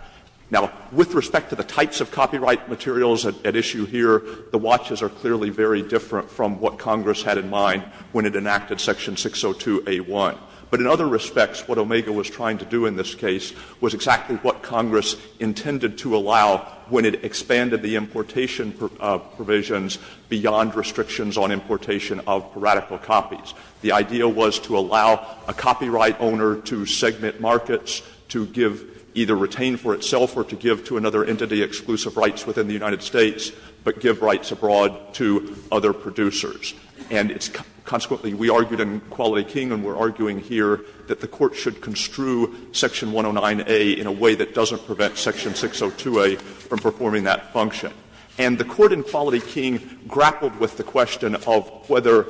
Now, with respect to the types of copyright materials at issue here, the watches are clearly very different from what Congress had in mind when it enacted Section 602A1. But in other respects, what Omega was trying to do in this case was exactly what Congress intended to allow when it expanded the importation provisions beyond restrictions on importation of radical copies. The idea was to allow a copyright owner to segment markets, to give – either retain for itself or to give to another entity exclusive rights within the United States, but give rights abroad to other producers. And it's – consequently, we argued in Quality King and we're arguing here that the Court should construe Section 109A in a way that doesn't prevent Section 602A from performing that function. And the Court in Quality King grappled with the question of whether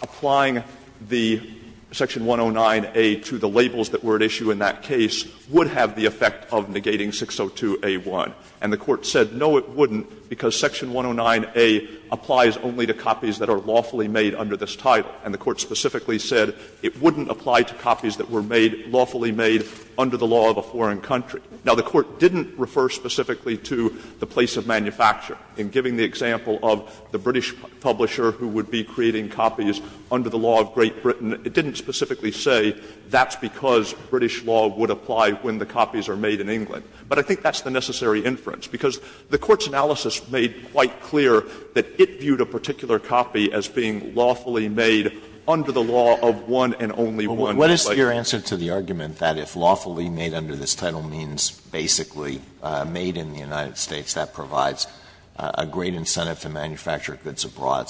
applying the Section 109A to the labels that were at issue in that case would have the effect of negating 602A1. And the Court said no, it wouldn't, because Section 109A applies only to copies that are lawfully made under this title. And the Court specifically said it wouldn't apply to copies that were made – lawfully made under the law of a foreign country. Now, the Court didn't refer specifically to the place of manufacture. In giving the example of the British publisher who would be creating copies under the law of Great Britain, it didn't specifically say that's because British law would apply when the copies are made in England. But I think that's the necessary inference, because the Court's analysis made quite clear that it viewed a particular copy as being lawfully made under the law of one and only one place. Alito, what is your answer to the argument that if lawfully made under this title means basically made in the United States, that provides a great incentive to manufacture goods abroad,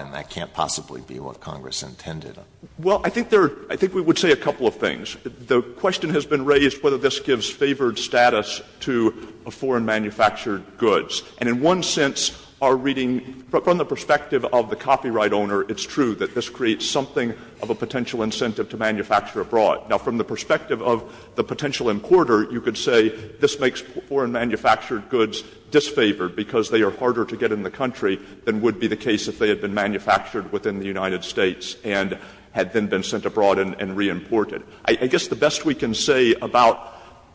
and that can't possibly be what Congress intended? Well, I think there are – I think we would say a couple of things. The question has been raised whether this gives favored status to foreign manufactured goods. And in one sense, our reading – from the perspective of the copyright owner, it's true that this creates something of a potential incentive to manufacture abroad. Now, from the perspective of the potential importer, you could say this makes foreign manufactured goods disfavored because they are harder to get in the country than would be the case if they had been manufactured within the United States and had then been sent abroad and reimported. I guess the best we can say about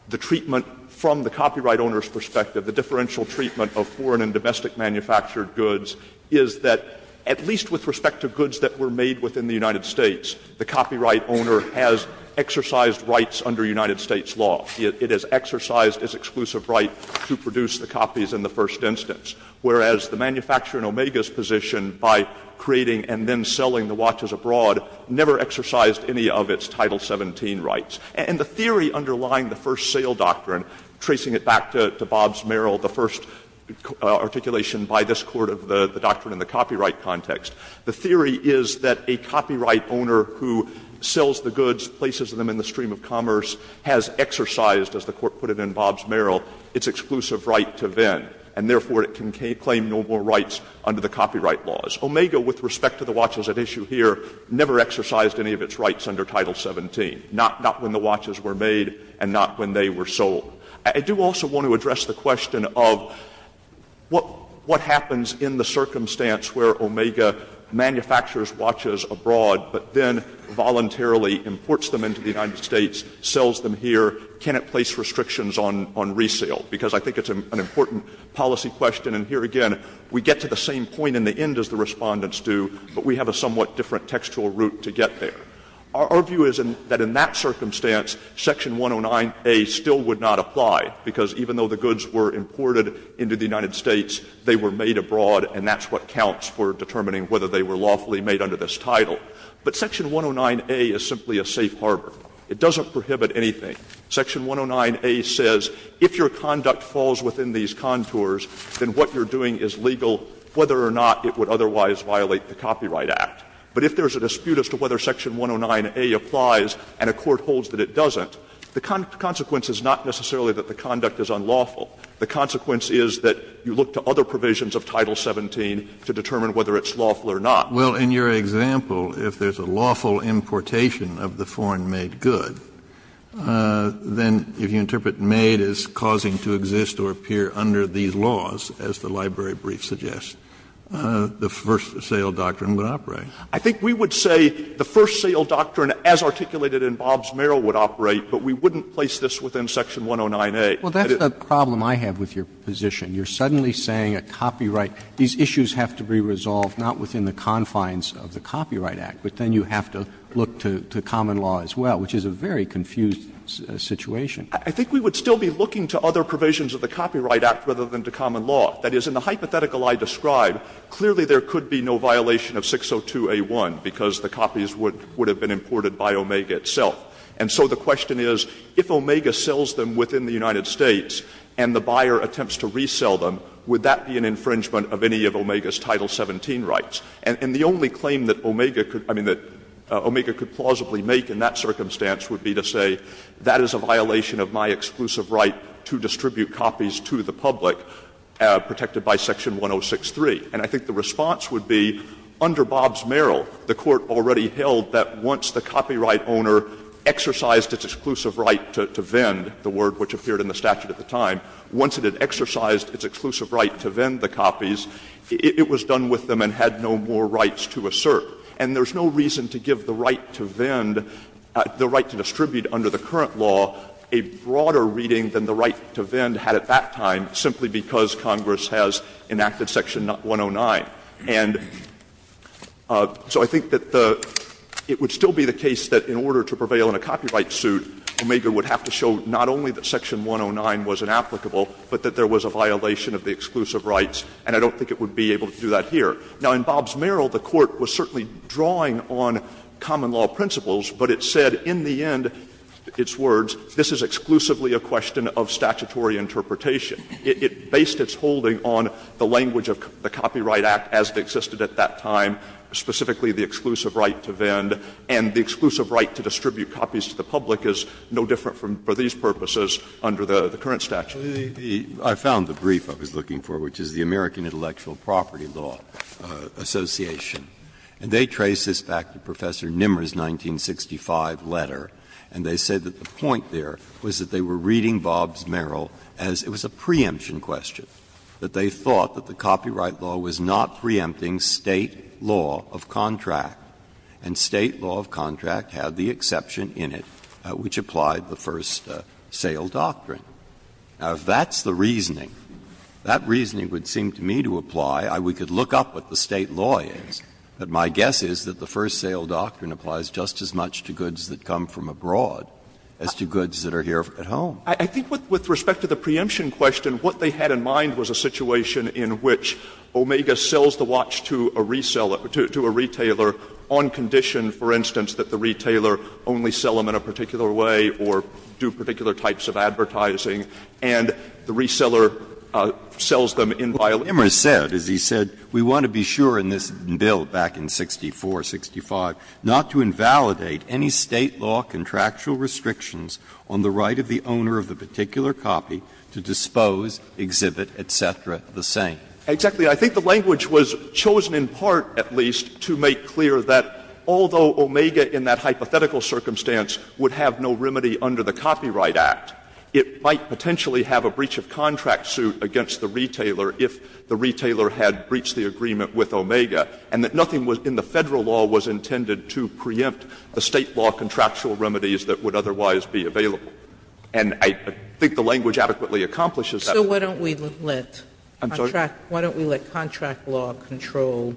the treatment from the copyright owner's perspective, the differential treatment of foreign and domestic manufactured goods, is that at least with respect to goods that were made within the United States, the copyright owner has exercised rights under United States law. It has exercised its exclusive right to produce the copies in the first instance, whereas the manufacturer in Omega's position by creating and then selling the watches abroad never exercised any of its Title 17 rights. And the theory underlying the first sale doctrine, tracing it back to Bobbs-Merrill, the first articulation by this Court of the doctrine in the copyright context, the theory is that a copyright owner who sells the goods, places them in the stream of commerce, has exercised, as the Court put it in Bobbs-Merrill, its exclusive right to vend, and therefore it can claim no more rights under the copyright laws. Omega, with respect to the watches at issue here, never exercised any of its rights under Title 17, not when the watches were made and not when they were sold. I do also want to address the question of what happens in the circumstance where Omega manufactures watches abroad, but then voluntarily imports them into the United States, sells them here, cannot place restrictions on resale, because I think it's an important policy question, and here again, we get to the same point in the end as the Respondents do, but we have a somewhat different textual route to get there. Our view is that in that circumstance, Section 109A still would not apply, because even though the goods were imported into the United States, they were made abroad, and that's what counts for determining whether they were lawfully made under this title. But Section 109A is simply a safe harbor. It doesn't prohibit anything. Section 109A says if your conduct falls within these contours, then what you're doing is legal whether or not it would otherwise violate the Copyright Act. But if there's a dispute as to whether Section 109A applies and a court holds that it doesn't, the consequence is not necessarily that the conduct is unlawful. The consequence is that you look to other provisions of Title 17 to determine whether it's lawful or not. Kennedy, in your example, if there's a lawful importation of the foreign-made goods, then if you interpret made as causing to exist or appear under these laws, as the library brief suggests, the first sale doctrine would operate. I think we would say the first sale doctrine as articulated in Bobbs-Merrill would operate, but we wouldn't place this within Section 109A. Well, that's the problem I have with your position. You're suddenly saying a copyright — these issues have to be resolved not within the confines of the Copyright Act, but then you have to look to common law as well, which is a very confused situation. I think we would still be looking to other provisions of the Copyright Act rather than to common law. That is, in the hypothetical I described, clearly there could be no violation of 602A1 because the copies would have been imported by Omega itself. And so the question is, if Omega sells them within the United States and the buyer attempts to resell them, would that be an infringement of any of Omega's Title 17 rights? And the only claim that Omega could — I mean, that Omega could plausibly make in that circumstance would be to say that is a violation of my exclusive right to distribute copies to the public protected by Section 106.3. And I think the response would be, under Bobbs-Merrill, the Court already held that once the copyright owner exercised its exclusive right to vend, the word which appeared in the statute at the time, once it had exercised its exclusive right to vend the copies, it was done with them and had no more rights to assert. And there's no reason to give the right to vend, the right to distribute under the current law, a broader reading than the right to vend had at that time simply because Congress has enacted Section 109. And so I think that the — it would still be the case that in order to prevail in a copyright suit, Omega would have to show not only that Section 109 was inapplicable, but that there was a violation of the exclusive rights. And I don't think it would be able to do that here. Now, in Bobbs-Merrill, the Court was certainly drawing on common law principles, but it said in the end, its words, this is exclusively a question of statutory interpretation. It based its holding on the language of the Copyright Act as it existed at that time, specifically the exclusive right to vend, and the exclusive right to distribute copies to the public is no different for these purposes under the current statute. Breyer. I found the brief I was looking for, which is the American Intellectual Property Law Association, and they trace this back to Professor Nimmer's 1965 letter, and they said that the point there was that they were reading Bobbs-Merrill as it was a preemption question, that they thought that the copyright law was not preempting State law of contract, and State law of contract had the exception in it which applied the first sale doctrine. Now, if that's the reasoning, that reasoning would seem to me to apply. We could look up what the State law is, but my guess is that the first sale doctrine applies just as much to goods that come from abroad as to goods that are here at home. I think with respect to the preemption question, what they had in mind was a situation in which Omega sells the watch to a reseller, to a retailer on condition, for instance, that the retailer only sell them in a particular way or do particular types of advertising and the reseller sells them in violation. Breyer, as Nimmer said, as he said, we want to be sure in this bill back in 64, 65, not to invalidate any State law contractual restrictions on the right of the owner of the particular copy to dispose, exhibit, et cetera, the same. Exactly. I think the language was chosen in part, at least, to make clear that although Omega in that hypothetical circumstance would have no remedy under the Copyright Act, it might potentially have a breach of contract suit against the retailer if the retailer had breached the agreement with Omega, and that nothing in the Federal law was intended to preempt the State law contractual remedies that would otherwise be available. And I think the language adequately accomplishes that. Sotomayor, I'm sorry. Sotomayor, why don't we let contract law control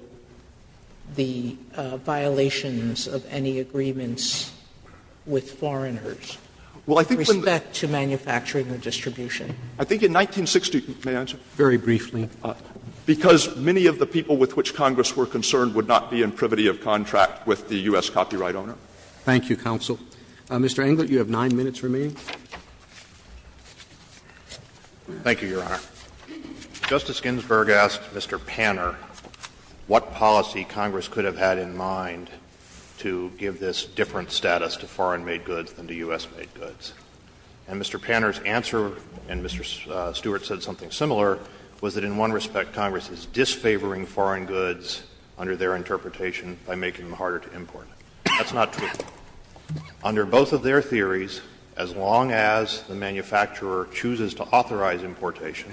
the violations of any agreements with foreigners? With respect to manufacturing or distribution? I think in 1960, may I answer? Very briefly. Because many of the people with which Congress were concerned would not be in privity of contract with the U.S. copyright owner. Thank you, counsel. Mr. Englert, you have 9 minutes remaining. Thank you, Your Honor. Justice Ginsburg asked Mr. Panner what policy Congress could have had in mind to give this different status to foreign-made goods than to U.S.-made goods. And Mr. Panner's answer, and Mr. Stewart said something similar, was that in one respect Congress is disfavoring foreign goods under their interpretation by making them harder to import. That's not true. Under both of their theories, as long as the manufacturer chooses to authorize importation,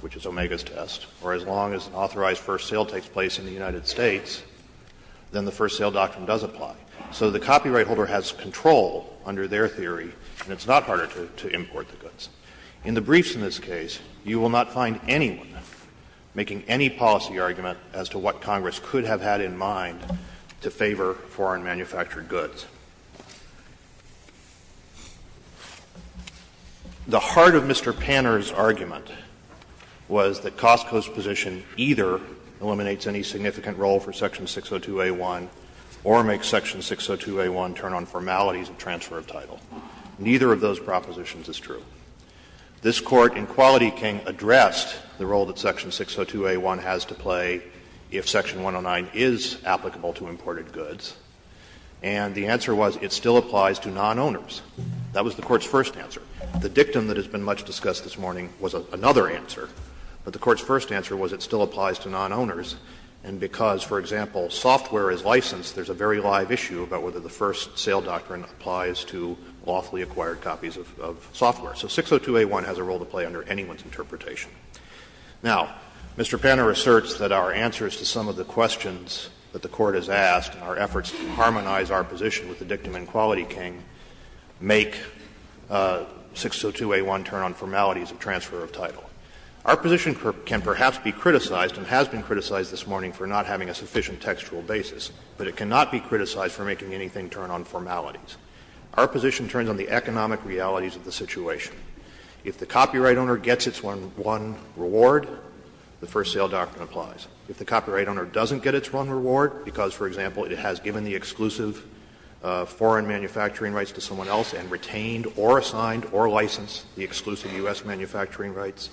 which is Omega's test, or as long as authorized first sale takes place in the United States, then the first sale doctrine does apply. So the copyright holder has control under their theory, and it's not harder to import the goods. In the briefs in this case, you will not find anyone making any policy argument as to what Congress could have had in mind to favor foreign-manufactured goods. The heart of Mr. Panner's argument was that Costco's position either eliminates any significant role for section 602A1 or makes section 602A1 turn on formalities of transfer of title. Neither of those propositions is true. This Court in Quality King addressed the role that section 602A1 has to play if section 109 is applicable to imported goods, and the answer was it still applies to non-owners. That was the Court's first answer. The dictum that has been much discussed this morning was another answer, but the Court's first answer was it still applies to non-owners, and because, for example, software is licensed, there's a very live issue about whether the first sale doctrine applies to lawfully acquired copies of software. So 602A1 has a role to play under anyone's interpretation. Now, Mr. Panner asserts that our answers to some of the questions that the Court has asked, our efforts to harmonize our position with the dictum in Quality King, Our position can perhaps be criticized and has been criticized this morning for not having a sufficient textual basis, but it cannot be criticized for making anything turn on formalities. Our position turns on the economic realities of the situation. If the copyright owner gets its one reward, the first sale doctrine applies. If the copyright owner doesn't get its one reward because, for example, it has given the exclusive foreign manufacturing rights to someone else and retained or assigned or licensed the exclusive U.S. manufacturing rights,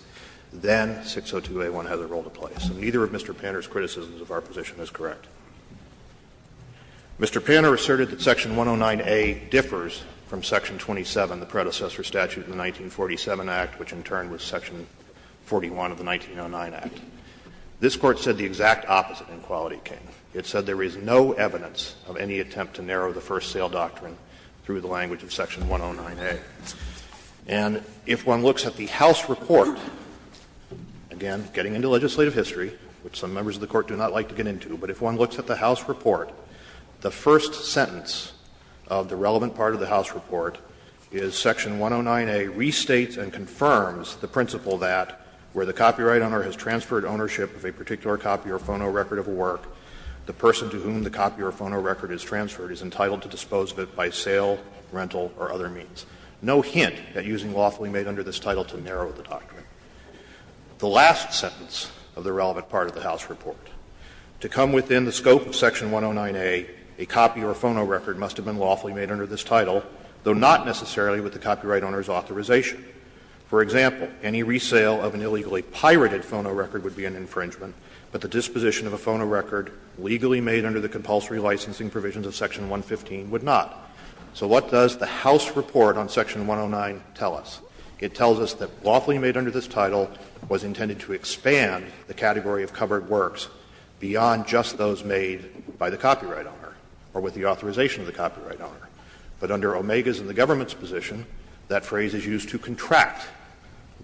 then 602A1 has a role to play. So neither of Mr. Panner's criticisms of our position is correct. Mr. Panner asserted that section 109A differs from section 27, the predecessor statute in the 1947 Act, which in turn was section 41 of the 1909 Act. This Court said the exact opposite in Quality King. It said there is no evidence of any attempt to narrow the first sale doctrine through the language of section 109A. And if one looks at the House report, again, getting into legislative history, which some members of the Court do not like to get into, but if one looks at the House report, the first sentence of the relevant part of the House report is section 109A restates and confirms the principle that where the copyright owner has transferred ownership of a particular copy or phonorecord of a work, the person to whom the copy or phonorecord is transferred is entitled to dispose of it by sale, rental or other means. No hint at using lawfully made under this title to narrow the doctrine. The last sentence of the relevant part of the House report, to come within the scope of section 109A, a copy or phonorecord must have been lawfully made under this title, though not necessarily with the copyright owner's authorization. For example, any resale of an illegally pirated phonorecord would be an infringement, but the disposition of a phonorecord legally made under the compulsory licensing provisions of section 115 would not. So what does the House report on section 109 tell us? It tells us that lawfully made under this title was intended to expand the category of covered works beyond just those made by the copyright owner or with the authorization of the copyright owner. But under OMEGA's and the government's position, that phrase is used to contract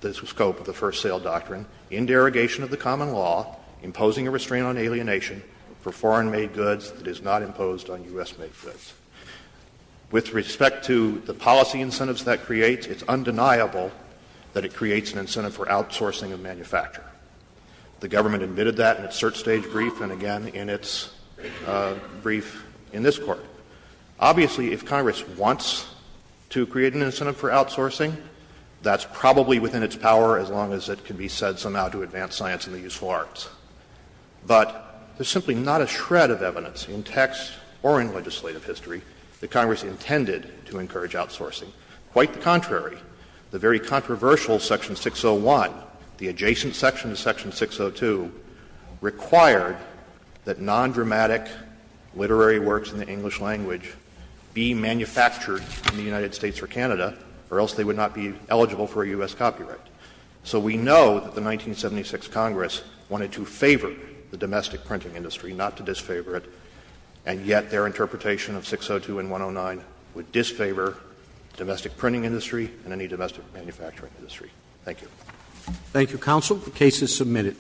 the scope of the first sale doctrine in derogation of the common law, imposing a restraint on alienation for foreign-made goods that is not imposed on U.S.-made goods. With respect to the policy incentives that creates, it's undeniable that it creates an incentive for outsourcing of manufacture. The government admitted that in its cert stage brief and again in its brief in this Court. Obviously, if Congress wants to create an incentive for outsourcing, that's probably within its power as long as it can be said somehow to advance science and the useful arts. But there's simply not a shred of evidence in text or in legislative history that Congress intended to encourage outsourcing. Quite the contrary, the very controversial section 601, the adjacent section of section 602, required that non-dramatic literary works in the English language be manufactured in the United States or Canada, or else they would not be eligible for U.S. copyright. So we know that the 1976 Congress wanted to favor the domestic printing industry, not to disfavor it, and yet their interpretation of 602 and 109 would disfavor domestic printing industry and any domestic manufacturing industry. Thank you. Roberts. Thank you, counsel. The case is submitted.